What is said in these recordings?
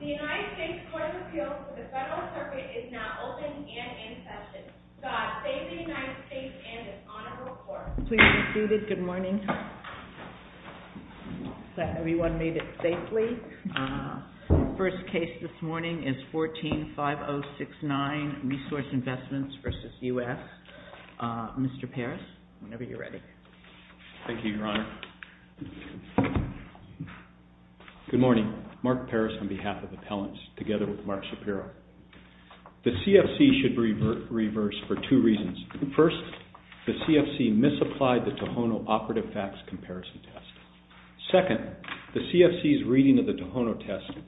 The United States Court of Appeals for the Federal Circuit is now open and in session. God save the United States and its honorable court. Please be seated. Good morning. I hope everyone made it safely. The first case this morning is 14-5069, Resource Investments v. U.S. Mr. Parris, whenever you're ready. Thank you, Your Honor. Good morning. Mark Parris on behalf of the appellants, together with Mark Shapiro. The CFC should reverse for two reasons. First, the CFC misapplied the Tohono Operative Facts comparison test. Second, the CFC's reading of the Tohono test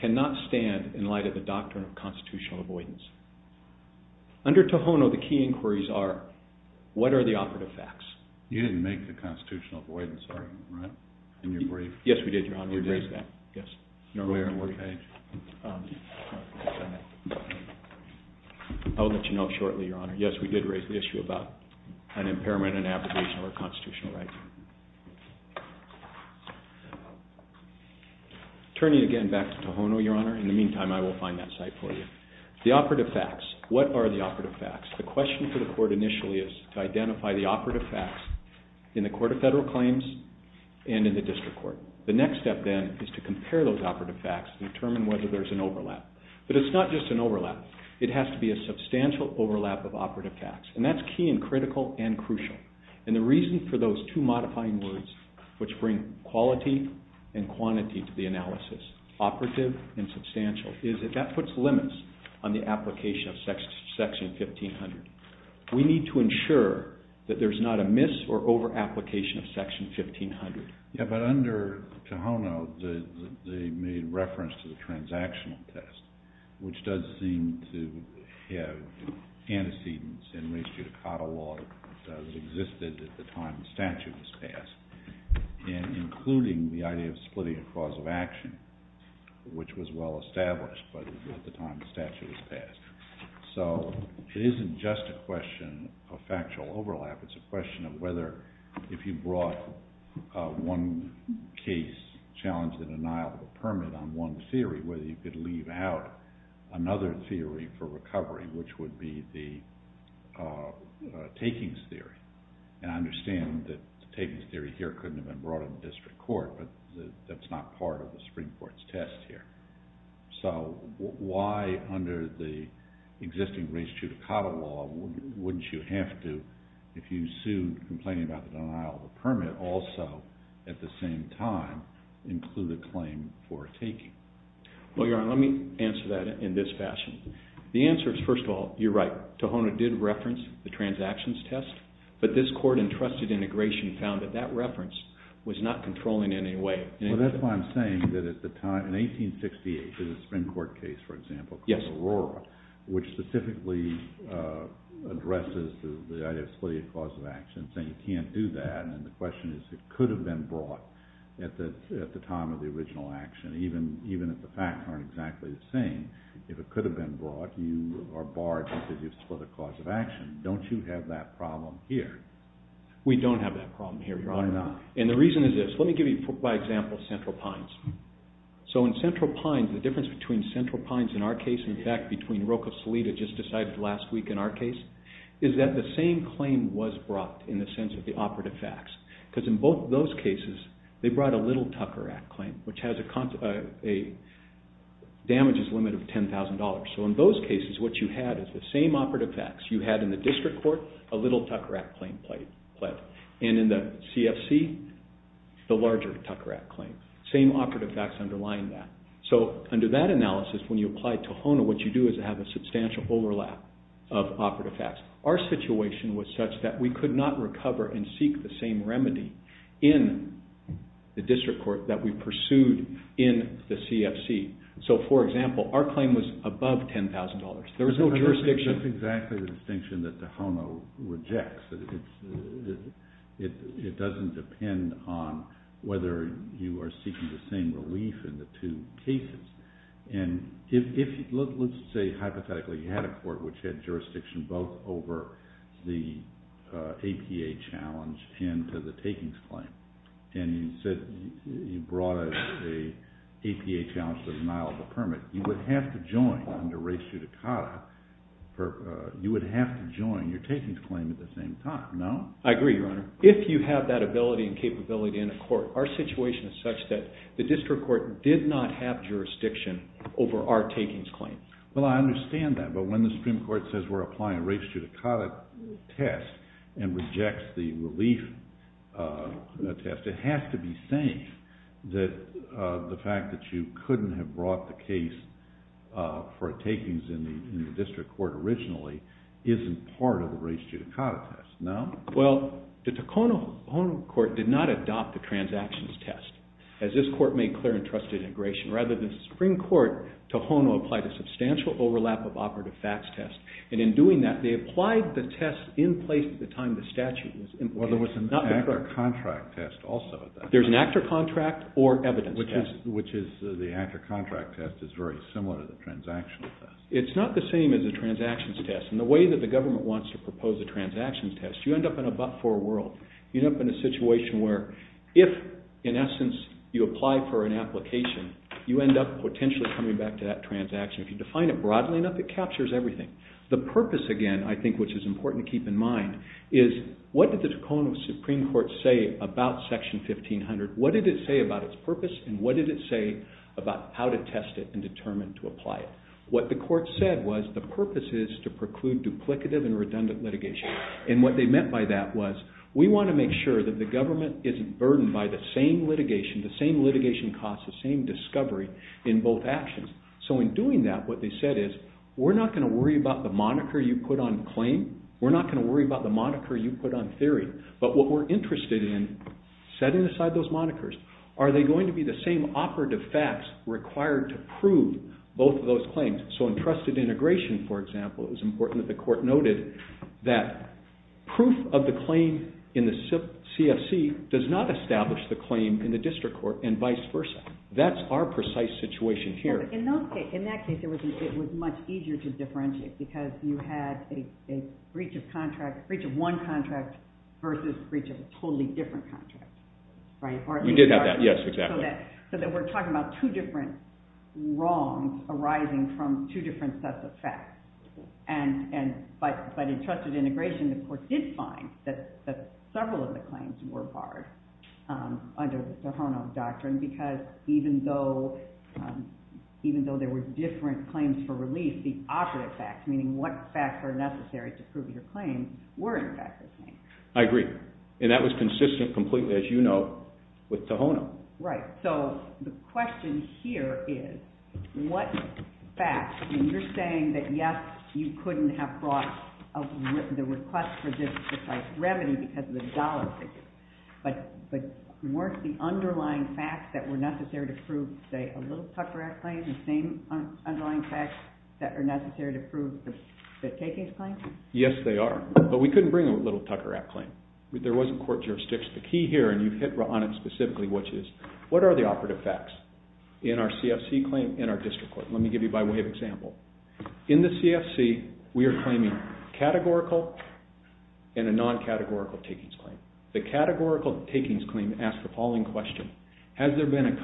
cannot stand in light of the doctrine of constitutional avoidance. Under Tohono, the key inquiries are, what are the operative facts? You didn't make the constitutional avoidance argument, right? Yes, we did, Your Honor. We raised that. Where and what page? I'll let you know shortly, Your Honor. Yes, we did raise the issue about an impairment in abrogation of our constitutional rights. Turning again back to Tohono, Your Honor, in the meantime I will find that site for you. The operative facts, what are the operative facts? The question for the court initially is to identify the operative facts in the Court of Federal Claims and in the District Court. The next step then is to compare those operative facts to determine whether there's an overlap. But it's not just an overlap. It has to be a substantial overlap of operative facts. And that's key and critical and crucial. And the reason for those two modifying words, which bring quality and quantity to the analysis, operative and substantial, is that that puts limits on the application of Section 1500. We need to ensure that there's not a miss or over-application of Section 1500. Yeah, but under Tohono, they made reference to the transactional test, which does seem to have antecedents in reach due to catalog that existed at the time the statute was passed, including the idea of splitting a cause of action, which was well established at the time the statute was passed. So it isn't just a question of factual overlap. It's a question of whether, if you brought one case, challenge the denial of a permit on one theory, whether you could leave out another theory for recovery, which would be the takings theory. And I understand that the takings theory here couldn't have been brought in the District Court, but that's not part of the Supreme Court's test here. So why, under the existing reach due to catalog, wouldn't you have to, if you sued complaining about the denial of a permit, also, at the same time, include a claim for a taking? Well, Your Honor, let me answer that in this fashion. The answer is, first of all, you're right. Tohono did reference the transactions test, but this Court-entrusted integration found that that reference was not controlling in any way. Well, that's why I'm saying that at the time, in 1868, there's a Supreme Court case, for example, called Aurora, which specifically addresses the idea of splitting a cause of action, saying you can't do that, and the question is, it could have been brought at the time of the original action, even if the facts aren't exactly the same. If it could have been brought, you are barred from splitting a cause of action. Don't you have that problem here? We don't have that problem here, Your Honor. Why not? And the reason is this. Let me give you, for example, Central Pines. So, in Central Pines, the difference between Central Pines, in our case, and, in fact, between Roca Solita, just decided last week, in our case, is that the same claim was brought, in the sense of the operative facts, because in both those cases, they brought a Little Tucker Act claim, which has a damages limit of $10,000. So, in those cases, what you had is the same operative facts. You had, in the District Court, a Little Tucker Act claim pled. And in the CFC, the larger Tucker Act claim. Same operative facts underlying that. So, under that analysis, when you apply to HONA, what you do is have a substantial overlap of operative facts. Our situation was such that we could not recover and seek the same remedy in the District Court that we pursued in the CFC. So, for example, our claim was above $10,000. There was no jurisdiction. That's exactly the distinction that the HONA rejects. It doesn't depend on whether you are seeking the same relief in the two cases. And let's say, hypothetically, you had a court which had jurisdiction both over the APA challenge and to the takings claim. And you said you brought an APA challenge to the denial of a permit. You would have to join under res judicata. You would have to join your takings claim at the same time, no? I agree, Your Honor. If you have that ability and capability in a court, our situation is such that the District Court did not have jurisdiction over our takings claim. Well, I understand that. But when the Supreme Court says we're applying res judicata test and rejects the relief test, it has to be saying that the fact that you couldn't have brought the case for takings in the District Court originally isn't part of the res judicata test, no? Well, the Tohono O'odham Court did not adopt the transactions test. As this Court made clear in trusted integration, rather than the Supreme Court, Tohono applied a substantial overlap of operative facts test. And in doing that, they applied the test in place at the time the statute was in place. Well, there was an actor contract test also at that time. There's an actor contract or evidence test. Which is the actor contract test is very similar to the transaction test. It's not the same as a transactions test. And the way that the government wants to propose a transactions test, you end up in a but-for world. You end up in a situation where if, in essence, you apply for an application, you end up potentially coming back to that transaction. If you define it broadly enough, it captures everything. The purpose, again, I think which is important to keep in mind, is what did the Tohono Supreme Court say about Section 1500? What did it say about its purpose? And what did it say about how to test it and determine to apply it? What the Court said was the purpose is to preclude duplicative and redundant litigation. And what they meant by that was we want to make sure that the government isn't burdened by the same litigation, the same litigation costs, the same discovery in both actions. So in doing that, what they said is we're not going to worry about the moniker you put on claim. We're not going to worry about the moniker you put on theory. But what we're interested in, setting aside those monikers, are they going to be the same operative facts required to prove both of those claims? So in trusted integration, for example, it was important that the Court noted that proof of the claim in the CFC does not establish the claim in the district court and vice versa. That's our precise situation here. In that case, it was much easier to differentiate because you had a breach of one contract versus a breach of a totally different contract. We did have that, yes, exactly. So that we're talking about two different wrongs arising from two different sets of facts. But in trusted integration, the Court did find that several of the claims were barred under the Tohono doctrine because even though there were different claims for relief, the operative facts, meaning what facts were necessary to prove your claims, were in fact the same. I agree. And that was consistent completely, as you know, with Tohono. Right. So the question here is what facts, and you're saying that, yes, you couldn't have brought the request for this precise remedy because of the dollar figure, but weren't the underlying facts that were necessary to prove, say, a little Tucker Act claim, the same underlying facts that are necessary to prove the KK's claim? Yes, they are. But we couldn't bring a little Tucker Act claim. There wasn't court jurisdiction. The key here, and you hit on it specifically, which is what are the operative facts in our CFC claim and our district court? Let me give you by way of example. In the CFC, we are claiming categorical and a non-categorical takings claim. The categorical takings claim asks the following question. Has there been a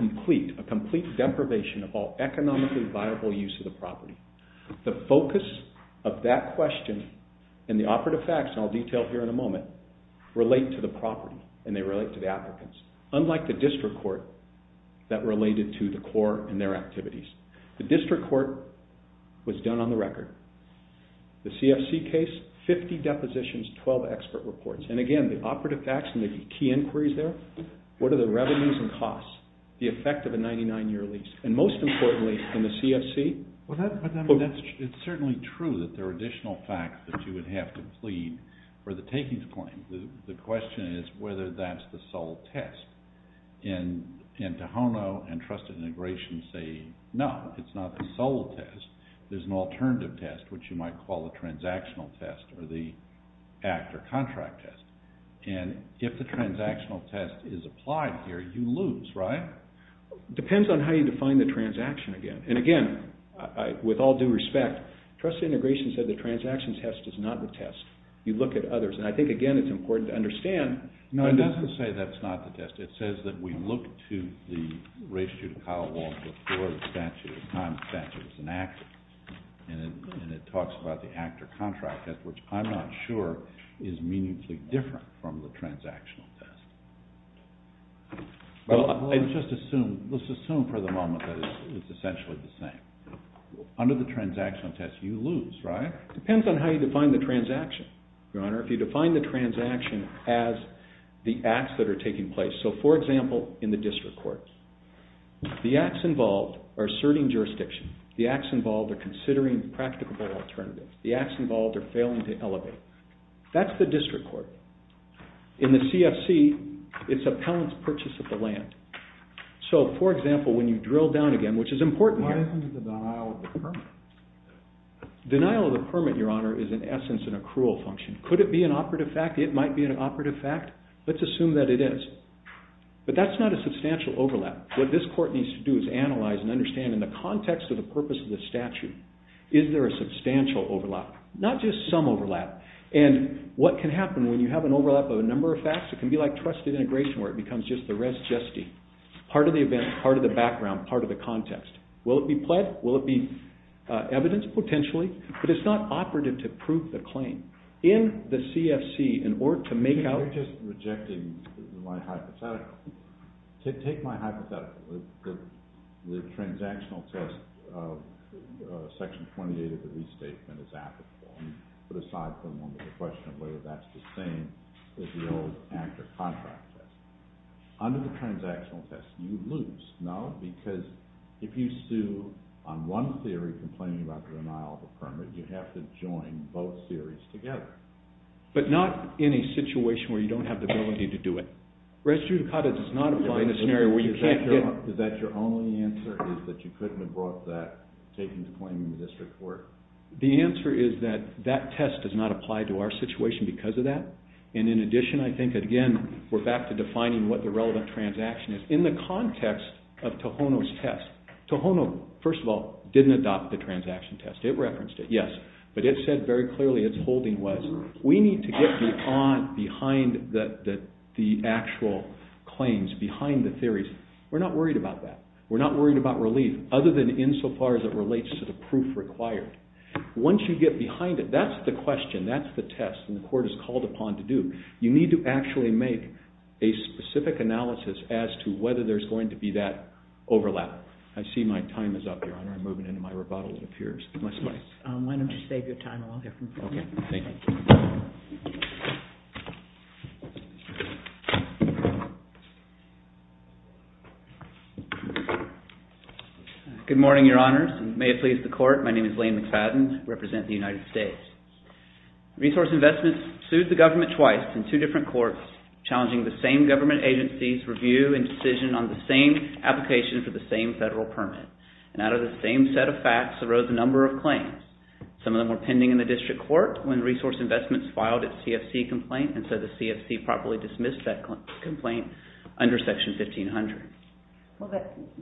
complete deprivation of all economically viable use of the property? The focus of that question and the operative facts, and I'll detail here in a moment, relate to the property and they relate to the applicants, unlike the district court that related to the core and their activities. The district court was done on the record. The CFC case, 50 depositions, 12 expert reports. And, again, the operative facts and the key inquiries there, what are the revenues and costs, the effect of a 99-year lease? And, most importantly, in the CFC? Well, it's certainly true that there are additional facts that you would have to plead for the takings claim. The question is whether that's the sole test. And Tohono and Trusted Integration say no, it's not the sole test. There's an alternative test, which you might call a transactional test or the act or contract test. And if the transactional test is applied here, you lose, right? Depends on how you define the transaction again. And, again, with all due respect, Trusted Integration said the transaction test is not the test. You look at others. And I think, again, it's important to understand. No, it doesn't say that's not the test. It says that we look to the ratio to Kyle Walsh before the statute, at the time the statute was enacted. And it talks about the act or contract test, which I'm not sure is meaningfully different from the transactional test. Well, let's just assume for the moment that it's essentially the same. Under the transactional test, you lose, right? Depends on how you define the transaction, Your Honor. If you define the transaction as the acts that are taking place. So, for example, in the district court, the acts involved are asserting jurisdiction. The acts involved are considering practicable alternatives. The acts involved are failing to elevate. That's the district court. In the CFC, it's appellant's purchase of the land. So, for example, when you drill down again, which is important here... Why isn't it the denial of the permit? Denial of the permit, Your Honor, is in essence an accrual function. Could it be an operative fact? It might be an operative fact. Let's assume that it is. But that's not a substantial overlap. What this court needs to do is analyze and understand in the context of the purpose of the statute, is there a substantial overlap? Not just some overlap. And what can happen when you have an overlap of a number of facts? It can be like trusted integration where it becomes just the rest, justy. Part of the event, part of the background, part of the context. Will it be pled? Will it be evidence? Potentially. But it's not operative to prove the claim. In the CFC, in order to make out... You're just rejecting my hypothetical. Take my hypothetical. The transactional test of Section 28 of the Restatement is applicable. Put aside for a moment the question of whether that's the same as the old active contract test. Under the transactional test, you lose. No? Because if you sue on one theory, complaining about the denial of a permit, you have to join both theories together. But not in a situation where you don't have the ability to do it. Res judicata does not apply in a scenario where you can't get... Is that your only answer, is that you couldn't have brought that, taken the claim in the district court? The answer is that that test does not apply to our situation because of that. And in addition, I think, again, we're back to defining what the relevant transaction is. In the context of Tohono's test, Tohono, first of all, didn't adopt the transaction test. It referenced it, yes. But it said very clearly its holding was, we need to get behind the actual claims, behind the theories. We're not worried about that. We're not worried about relief, other than insofar as it relates to the proof required. Once you get behind it, that's the question, that's the test, and the court is called upon to do. You need to actually make a specific analysis as to whether there's going to be that overlap. I see my time is up, Your Honor. I'm moving into my rebuttal, it appears. I want to save your time. Okay, thank you. Good morning, Your Honors, and may it please the Court. My name is Lane McFadden. I represent the United States. Resource Investments sued the government twice in two different courts, challenging the same government agency's review and decision on the same application for the same federal permit. And out of the same set of facts arose a number of claims. Some of them were pending in the district court when Resource Investments filed its CFC complaint and said the CFC properly dismissed that complaint under Section 1500. Well,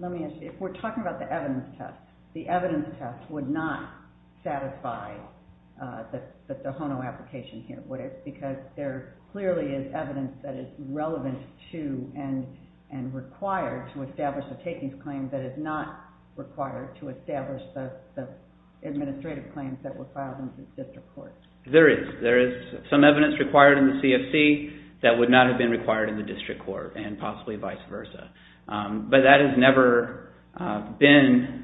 let me ask you, if we're talking about the evidence test, the evidence test would not satisfy the HONO application here, would it? Because there clearly is evidence that is relevant to and required to establish a takings claim that is not required to establish the administrative claims that were filed in the district court. There is. There is some evidence required in the CFC that would not have been required in the district court and possibly vice versa. But that has never been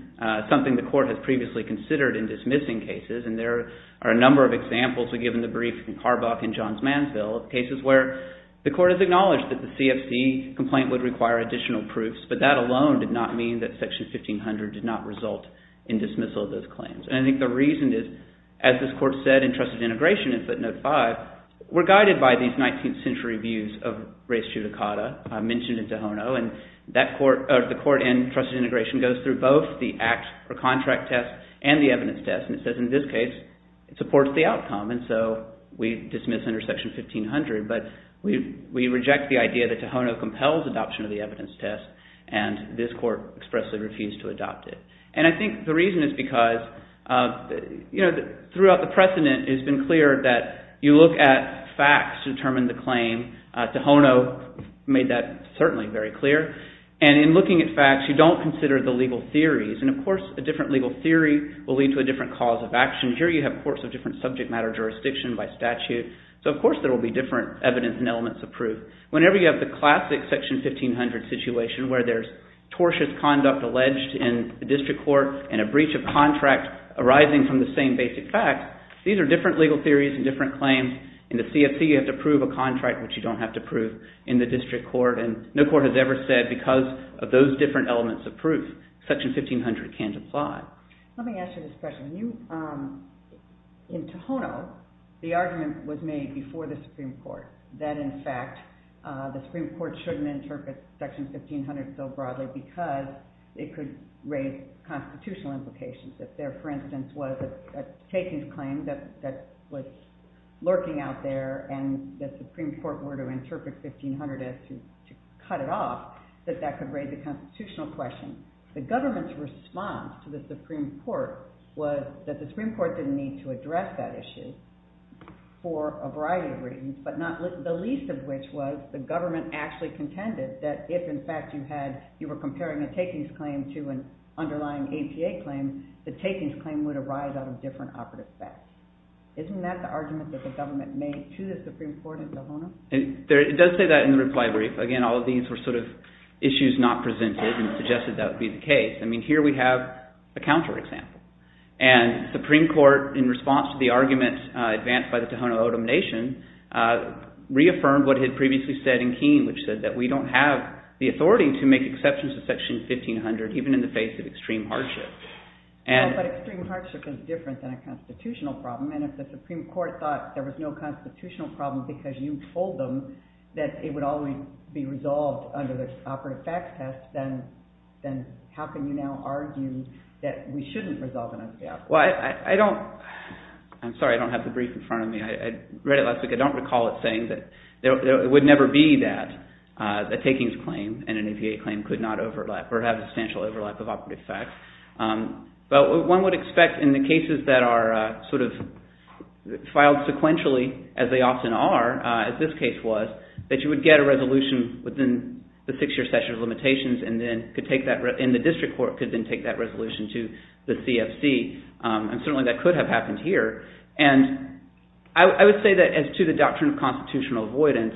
something the Court has previously considered in dismissing cases, and there are a number of examples. We've given the brief in Carbock and Johns Mansfield, cases where the Court has acknowledged that the CFC complaint would require additional proofs, but that alone did not mean that Section 1500 did not result in dismissal of those claims. And I think the reason is, as this Court said in Trusted Integration in footnote 5, we're guided by these 19th century views of res judicata mentioned in Tohono, and the Court in Trusted Integration goes through both the act or contract test and the evidence test, and it says in this case it supports the outcome. And so we dismiss under Section 1500, but we reject the idea that Tohono compels adoption of the evidence test, and this Court expressly refused to adopt it. And I think the reason is because, you know, throughout the precedent, it has been clear that you look at facts to determine the claim. Tohono made that certainly very clear. And in looking at facts, you don't consider the legal theories, and of course a different legal theory will lead to a different cause of action. Here you have courts of different subject matter jurisdiction by statute, so of course there will be different evidence and elements of proof. Whenever you have the classic Section 1500 situation, where there's tortious conduct alleged in the district court and a breach of contract arising from the same basic facts, these are different legal theories and different claims. In the CFC, you have to prove a contract, which you don't have to prove in the district court, and no court has ever said because of those different elements of proof, Section 1500 can't apply. Let me ask you this question. In Tohono, the argument was made before the Supreme Court that in fact the Supreme Court shouldn't interpret Section 1500 so broadly because it could raise constitutional implications. If there, for instance, was a takings claim that was lurking out there and the Supreme Court were to interpret 1500 as to cut it off, that that could raise a constitutional question. The government's response to the Supreme Court was that the Supreme Court didn't need to address that issue for a variety of reasons, but the least of which was the government actually contended that if in fact you were comparing a takings claim to an underlying APA claim, the takings claim would arise out of different operative facts. Isn't that the argument that the government made to the Supreme Court in Tohono? It does say that in the reply brief. Again, all of these were sort of issues not presented and suggested that would be the case. I mean, here we have a counterexample. And the Supreme Court, in response to the argument advanced by the Tohono O'odham Nation, reaffirmed what it had previously said in Keene, which said that we don't have the authority to make exceptions to Section 1500 even in the face of extreme hardship. But extreme hardship is different than a constitutional problem, and if the Supreme Court thought there was no constitutional problem because you told them that it would always be resolved under the operative facts test, then how can you now argue that we shouldn't resolve an APA? Well, I don't... I'm sorry, I don't have the brief in front of me. I read it last week. I don't recall it saying that it would never be that, a takings claim and an APA claim could not overlap or have a substantial overlap of operative facts. But one would expect in the cases that are sort of filed sequentially, as they often are, as this case was, that you would get a resolution within the six-year section of limitations and then could take that... and the district court could then take that resolution to the CFC. And certainly that could have happened here. And I would say that as to the doctrine of constitutional avoidance,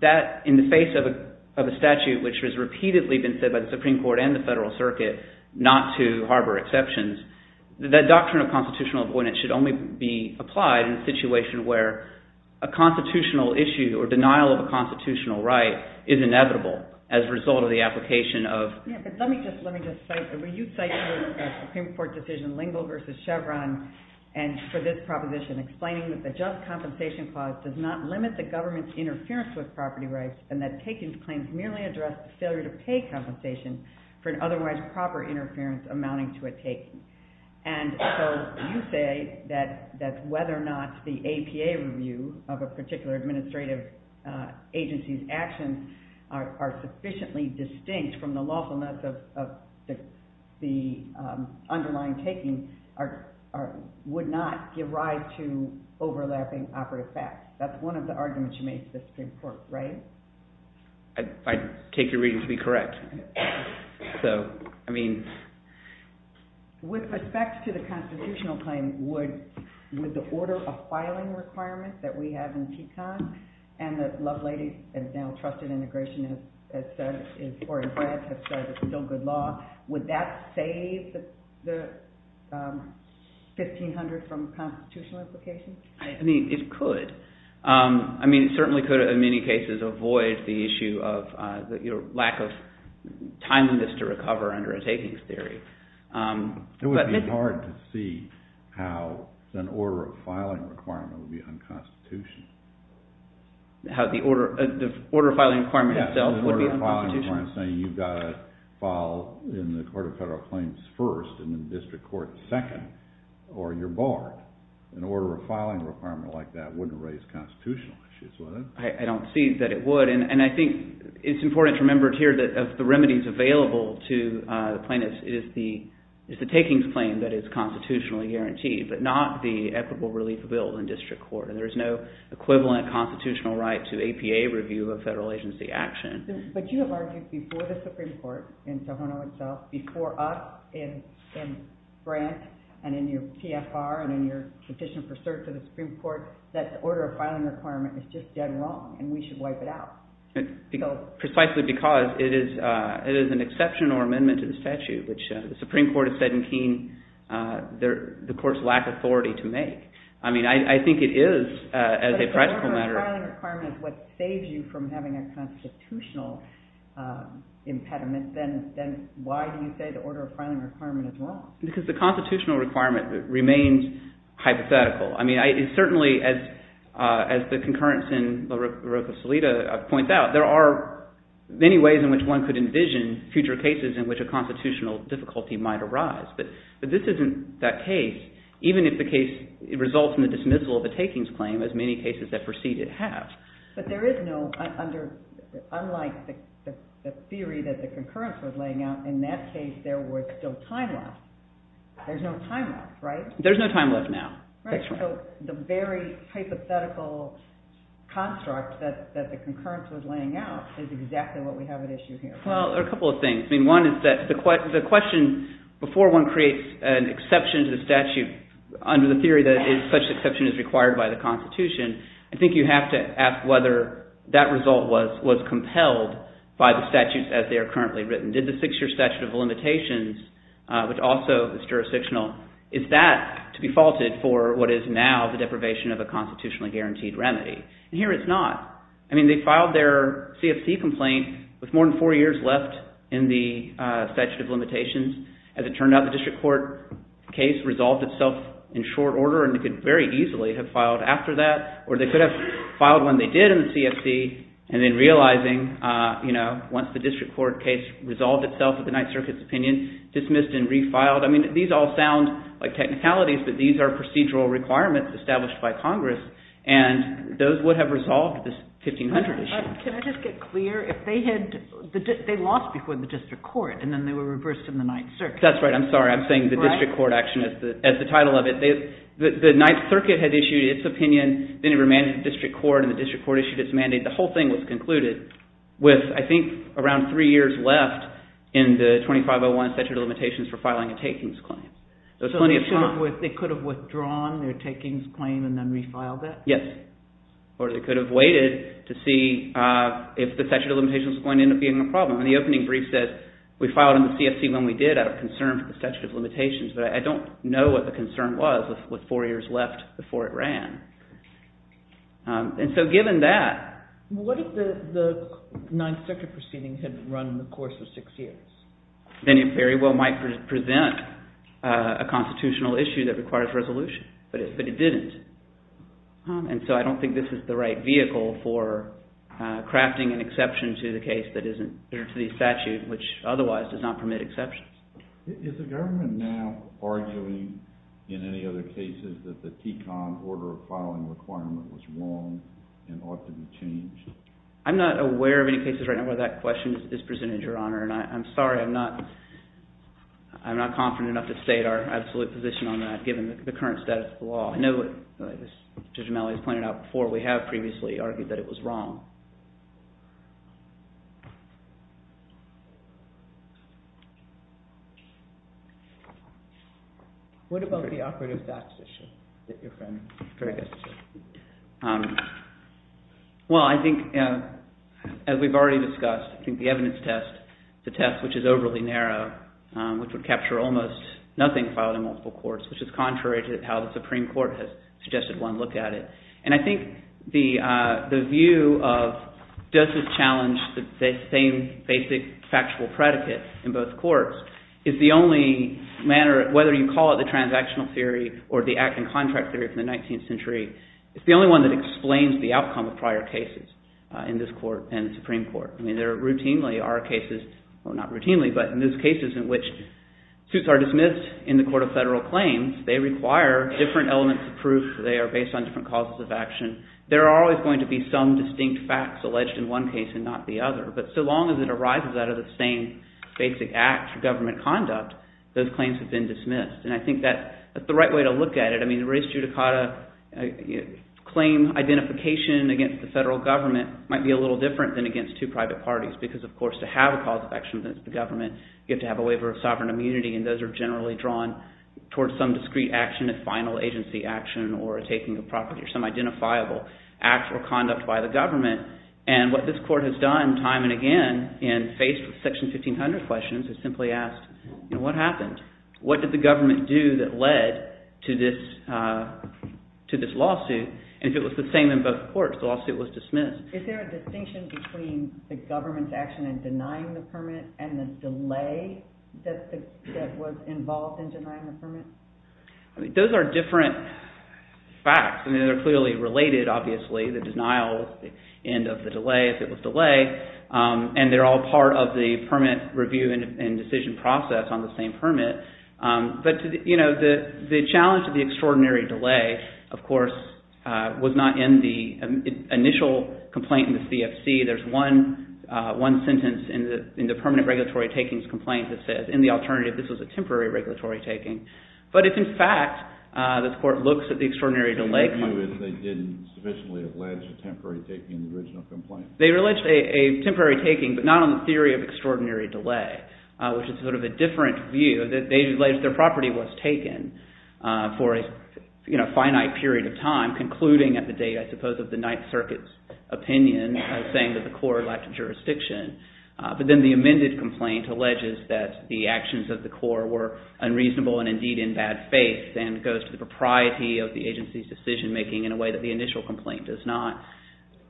that in the face of a statute which has repeatedly been said by the Supreme Court and the Federal Circuit not to harbor exceptions, that doctrine of constitutional avoidance should only be applied in a situation where a constitutional issue or denial of a constitutional right is inevitable as a result of the application of... Yeah, but let me just cite... You cite the Supreme Court decision Lingle v. Chevron for this proposition, explaining that the just compensation clause does not limit the government's interference with property rights and that taken claims merely address the failure to pay compensation for an otherwise proper interference amounting to a taking. And so you say that whether or not the APA review of a particular administrative agency's actions are sufficiently distinct from the lawfulness of the underlying taking would not give rise to overlapping operative facts. That's one of the arguments you made to the Supreme Court, right? I take your reading to be correct. So, I mean... With respect to the constitutional claim, would the order of filing requirements that we have in TECON and that Lovelady and now Trusted Integration have said it's still good law, would that save the 1500 from constitutional implications? I mean, it could. I mean, it certainly could, in many cases, avoid the issue of the lack of timeliness to recover under a taking theory. It would be hard to see how an order of filing requirement would be unconstitutional. How the order of filing requirement itself would be unconstitutional? So you've got to file in the Court of Federal Claims first and in District Court second, or you're barred. An order of filing requirement like that wouldn't raise constitutional issues, would it? I don't see that it would. And I think it's important to remember here that of the remedies available to plaintiffs, it is the takings claim that is constitutionally guaranteed, but not the equitable relief bill in District Court. And there is no equivalent constitutional right to APA review of federal agency action. But you have argued before the Supreme Court in Tohono itself, before us in France and in your PFR and in your petition for cert to the Supreme Court, that the order of filing requirement is just dead wrong and we should wipe it out. Precisely because it is an exception or amendment to the statute, which the Supreme Court has said in Keene the Court's lack of authority to make. I mean, I think it is, as a practical matter. But the order of filing requirement is what saves you from having a constitutional impediment. Then why do you say the order of filing requirement is wrong? Because the constitutional requirement remains hypothetical. I mean, it certainly, as the concurrence in La Roca-Salida points out, there are many ways in which one could envision future cases in which a constitutional difficulty might arise. But this isn't that case, even if the case results in the dismissal of a takings claim, as many cases that precede it have. But there is no, unlike the theory that the concurrence was laying out, in that case there was still time left. There's no time left, right? There's no time left now. Right. So the very hypothetical construct that the concurrence was laying out is exactly what we have at issue here. Well, there are a couple of things. I mean, one is that the question before one creates an exception to the statute under the theory that such exception is required by the Constitution, I think you have to ask whether that result was compelled by the statutes as they are currently written. Did the six-year statute of limitations, which also is jurisdictional, is that to be faulted for what is now the deprivation of a constitutionally guaranteed remedy? And here it's not. I mean, they filed their CFC complaint with more than four years left in the statute of limitations. As it turned out, the district court case resolved itself in short order, and they could very easily have filed after that. Or they could have filed when they did in the CFC and then realizing once the district court case resolved itself with the Ninth Circuit's opinion, dismissed and refiled. I mean, these all sound like technicalities, but these are procedural requirements established by Congress. And those would have resolved this 1500 issue. Can I just get clear? If they had lost before the district court, and then they were reversed in the Ninth Circuit. That's right. I'm sorry. I'm saying the district court action as the title of it. The Ninth Circuit had issued its opinion, then it remained in the district court, and the district court issued its mandate. The whole thing was concluded with, I think, around three years left in the 2501 statute of limitations for filing a takings claim. So they could have withdrawn their takings claim and then refiled it? Yes. Or they could have waited to see if the statute of limitations was going to end up being a problem. And the opening brief says, we filed in the CFC when we did out of concern for the statute of limitations. But I don't know what the concern was with four years left before it ran. And so given that. What if the Ninth Circuit proceedings hadn't run in the course of six years? Then it very well might present a constitutional issue that requires resolution. But it didn't. And so I don't think this is the right vehicle for crafting an exception to the case that isn't to the statute, which otherwise does not permit exceptions. Is the government now arguing in any other cases that the TCON order of filing requirement was wrong and ought to be changed? I'm not aware of any cases right now where that question is presented, Your Honor. And I'm sorry. I'm not confident enough to state our absolute position on that, given the current status of the law. I know, as Judge O'Malley has pointed out before, we have previously argued that it was wrong. What about the operative facts issue that your friend suggested? Well, I think, as we've already discussed, I think the evidence test, the test which is overly narrow, which would capture almost nothing filed in multiple courts, which is contrary to how the Supreme Court has suggested one look at it. And I think the view of does this challenge the same basic factual predicate in both courts is the only manner, whether you call it the transactional theory or the act and contract theory from the 19th century, it's the only one that explains the outcome of prior cases in this court and the Supreme Court. I mean, there routinely are cases, well, not routinely, but in those cases in which suits are dismissed in the court of federal claims, they require different elements of proof. They are based on different causes of action. There are always going to be some distinct facts alleged in one case and not the other. But so long as it arises out of the same basic act for government conduct, those claims have been dismissed. And I think that's the right way to look at it. I mean, race judicata claim identification against the federal government might be a little different than against two private parties because, of course, to have a cause of action against the government, you have to have a waiver of sovereign immunity. And those are generally drawn towards some discrete action, a final agency action, or taking a property or some identifiable act or conduct by the government. And what this court has done time and again and faced with Section 1500 questions is simply ask, what happened? What did the government do that led to this lawsuit? And if it was the same in both courts, the lawsuit was dismissed. Is there a distinction between the government's action in denying the permit and the delay that was involved in denying the permit? I mean, those are different facts. I mean, they're clearly related, obviously. The denial is the end of the delay if it was delayed. And they're all part of the permit review and decision process on the same permit. But the challenge to the extraordinary delay, of course, was not in the initial complaint in the CFC. There's one sentence in the permanent regulatory takings complaint that says, in the alternative, this was a temporary regulatory taking. But if, in fact, this court looks at the extraordinary delay claim. What did they do if they didn't sufficiently allege a temporary taking in the original complaint? They alleged a temporary taking, but not on the theory of extraordinary delay, which is sort of a different view. They alleged their property was taken for a finite period of time, concluding at the date, I suppose, of the Ninth Circuit's opinion saying that the court lacked jurisdiction. But then the amended complaint alleges that the actions of the court were unreasonable and indeed in bad faith and goes to the propriety of the agency's decision making in a way that the initial complaint does not.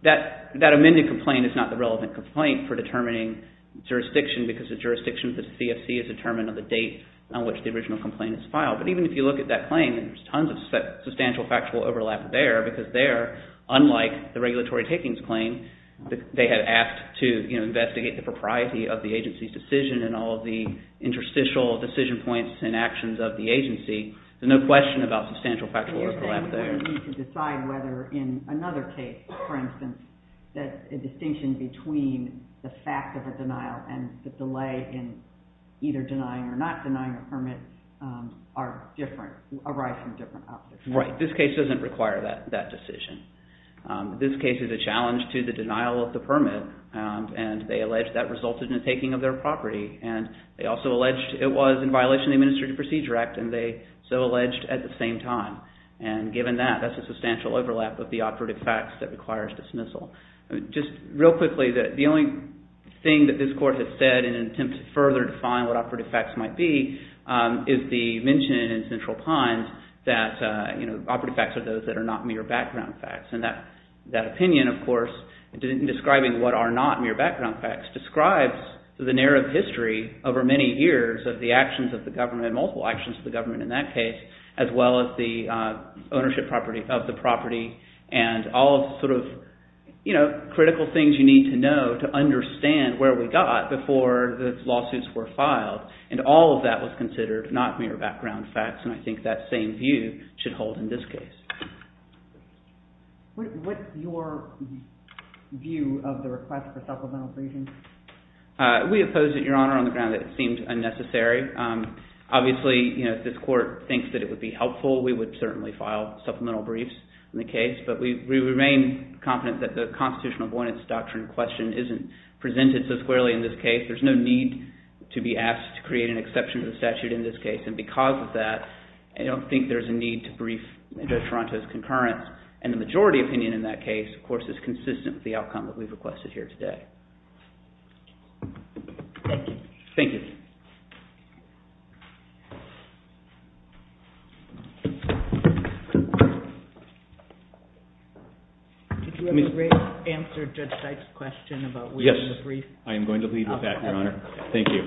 That amended complaint is not the relevant complaint for determining jurisdiction because the jurisdiction of the CFC is determined on the date on which the original complaint is filed. But even if you look at that claim, there's tons of substantial factual overlap there because there, unlike the regulatory takings claim, they had asked to investigate the propriety of the agency's decision and all of the interstitial decision points and actions of the agency. There's no question about substantial factual overlap So you're saying you need to decide whether in another case, for instance, that a distinction between the fact of a denial and the delay in either denying or not denying a permit are different, arise from different options. Right. This case doesn't require that decision. This case is a challenge to the denial of the permit and they allege that resulted in the taking of their property. And they also alleged it was in violation of the Administrative Procedure Act and they so alleged at the same time. And given that, that's a substantial overlap of the operative facts that requires dismissal. Just real quickly, the only thing that this court has said in an attempt to further define what operative facts might be is the mention in Central Pines that operative facts are those that are not mere background facts. And that opinion, of course, in describing what are not mere background facts, describes the narrative history over many years of the actions of the government, multiple actions of the government in that case, as well as the ownership property of the property and all sort of critical things you need to know to understand where we got before the lawsuits were filed. And all of that was considered not mere background facts. And I think that same view should hold in this case. What's your view of the request for supplemental breaching? We oppose it, Your Honor, on the ground that it seems unnecessary. Obviously, if this court thinks that it would be helpful, we would certainly file supplemental briefs in the case. But we remain confident that the constitutional abominance doctrine question isn't presented so squarely in this case. There's no need to be asked to create an exception to the statute in this case. And because of that, I don't think there's a need to brief Judge Toronto's concurrence. And the majority opinion in that case, of course, is consistent with the outcome that we've requested here today. Thank you. Thank you. Did you have a brief answer to Judge Dyke's question about whether the brief? Yes. I am going to leave it at that, Your Honor. Thank you.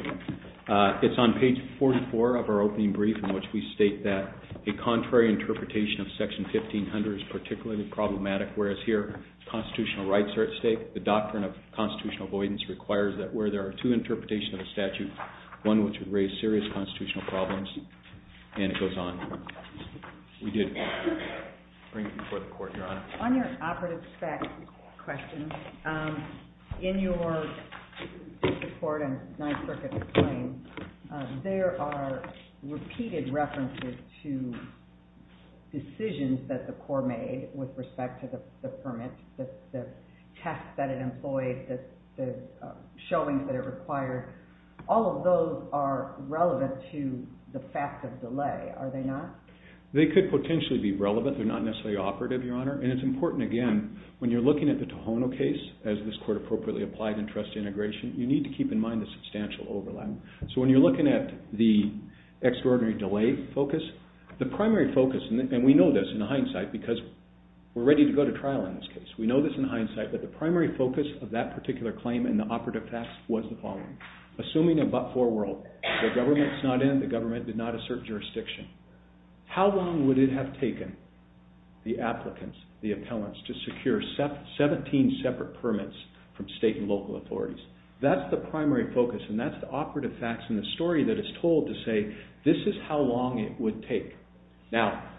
It's on page 44 of our opening brief in which we state that a contrary interpretation of section 1500 is particularly problematic, whereas here constitutional rights are at stake. The doctrine of constitutional avoidance requires that where there are two interpretations of a statute, one which would raise serious constitutional problems. And it goes on. We did bring it before the court, Your Honor. On your operative spec question, in your report and Knife-Circuit's claim, there are repeated references to decisions that the court made with respect to the permit, the test that it employs, the showings that it requires. All of those are relevant to the fact of delay, are they not? They could potentially be relevant. They're not necessarily operative, Your Honor. And it's important, again, when you're looking at the Tohono case, as this court appropriately applied in trust integration, you need to keep in mind the substantial overlap. So when you're looking at the extraordinary delay focus, the primary focus, and we know this in hindsight because we're ready to go to trial in this case. We know this in hindsight, but the primary focus of that particular claim in the operative facts was the following. Assuming a but-for world, the government's not in, the government did not assert jurisdiction, how long would it have taken the applicants, the appellants, to secure 17 separate permits from state and local authorities? That's the primary focus, and that's the operative facts and the story that is told to say, this is how long it would take. Now,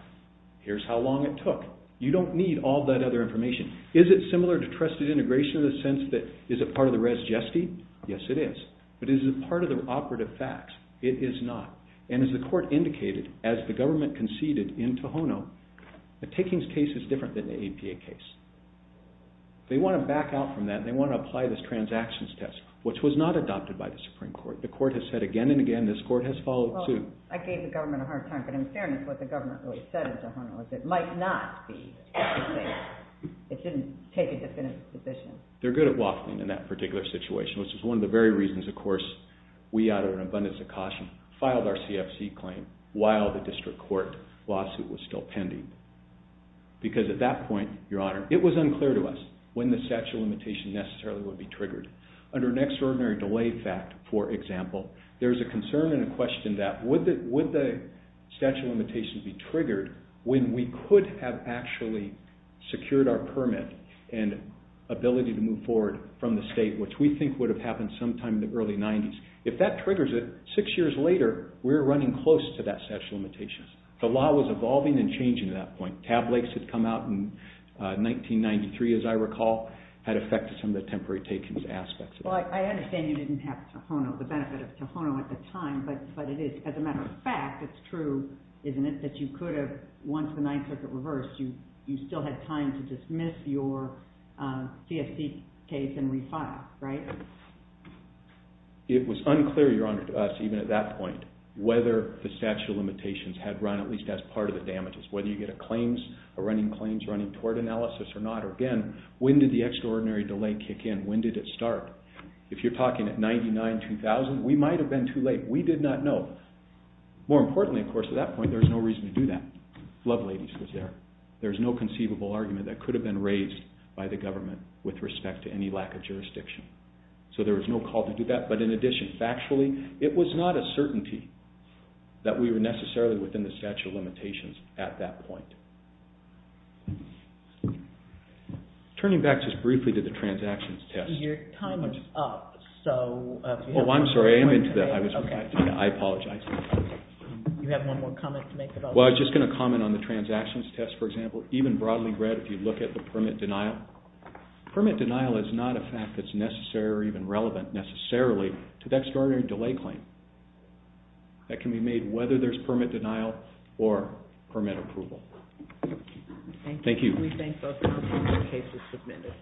here's how long it took. You don't need all that other information. Is it similar to trusted integration in the sense that is it part of the res geste? Yes, it is. But is it part of the operative facts? It is not. And as the court indicated, as the government conceded in Tohono, the Takings case is different than the APA case. They want to back out from that and they want to apply this transactions test, which was not adopted by the Supreme Court. The court has said again and again, this court has followed suit. Well, I gave the government a hard time, but in fairness, what the government really said in Tohono was it might not be. It didn't take a definitive position. They're good at waffling in that particular situation, which is one of the very reasons, of course, we added an abundance of caution, filed our CFC claim while the district court lawsuit was still pending. Because at that point, Your Honor, it was unclear to us when the statute of limitation necessarily would be triggered. Under an extraordinary delay fact, for example, there's a concern and a question that, would the statute of limitation be triggered when we could have actually secured our permit and ability to move forward from the state, which we think would have happened sometime in the early 90s. If that triggers it, six years later, we're running close to that statute of limitation. The law was evolving and changing at that point. Tab lakes had come out in 1993, as I recall, had affected some of the temporary takings aspects. Well, I understand you didn't have Tohono, the benefit of Tohono at the time, but it is, as a matter of fact, it's true, isn't it, that you could have, once the ninth circuit reversed, you still had time to dismiss your CFC case and refile, right? It was unclear, Your Honor, to us, even at that point, whether the statute of limitations had run, at least as part of the damages. Whether you get a claims, a running claims, running tort analysis or not. Again, when did the extraordinary delay kick in? When did it start? If you're talking at 99, 2000, we might have been too late. We did not know. More importantly, of course, at that point, there was no reason to do that. Love Ladies was there. There was no conceivable argument that could have been raised by the government with respect to any lack of jurisdiction. So there was no call to do that, but in addition, factually, it was not a certainty that we were necessarily within the statute of limitations at that point. Turning back just briefly to the transactions test... Your time is up, so... I apologize. You have one more comment to make? Well, I was just going to comment on the transactions test, for example. Even broadly read, if you look at the permit denial, permit denial is not a fact that's necessary or even relevant, necessarily, to the extraordinary delay claim. That can be made whether there's permit denial or permit approval. Thank you. We thank both parties for their cases submitted.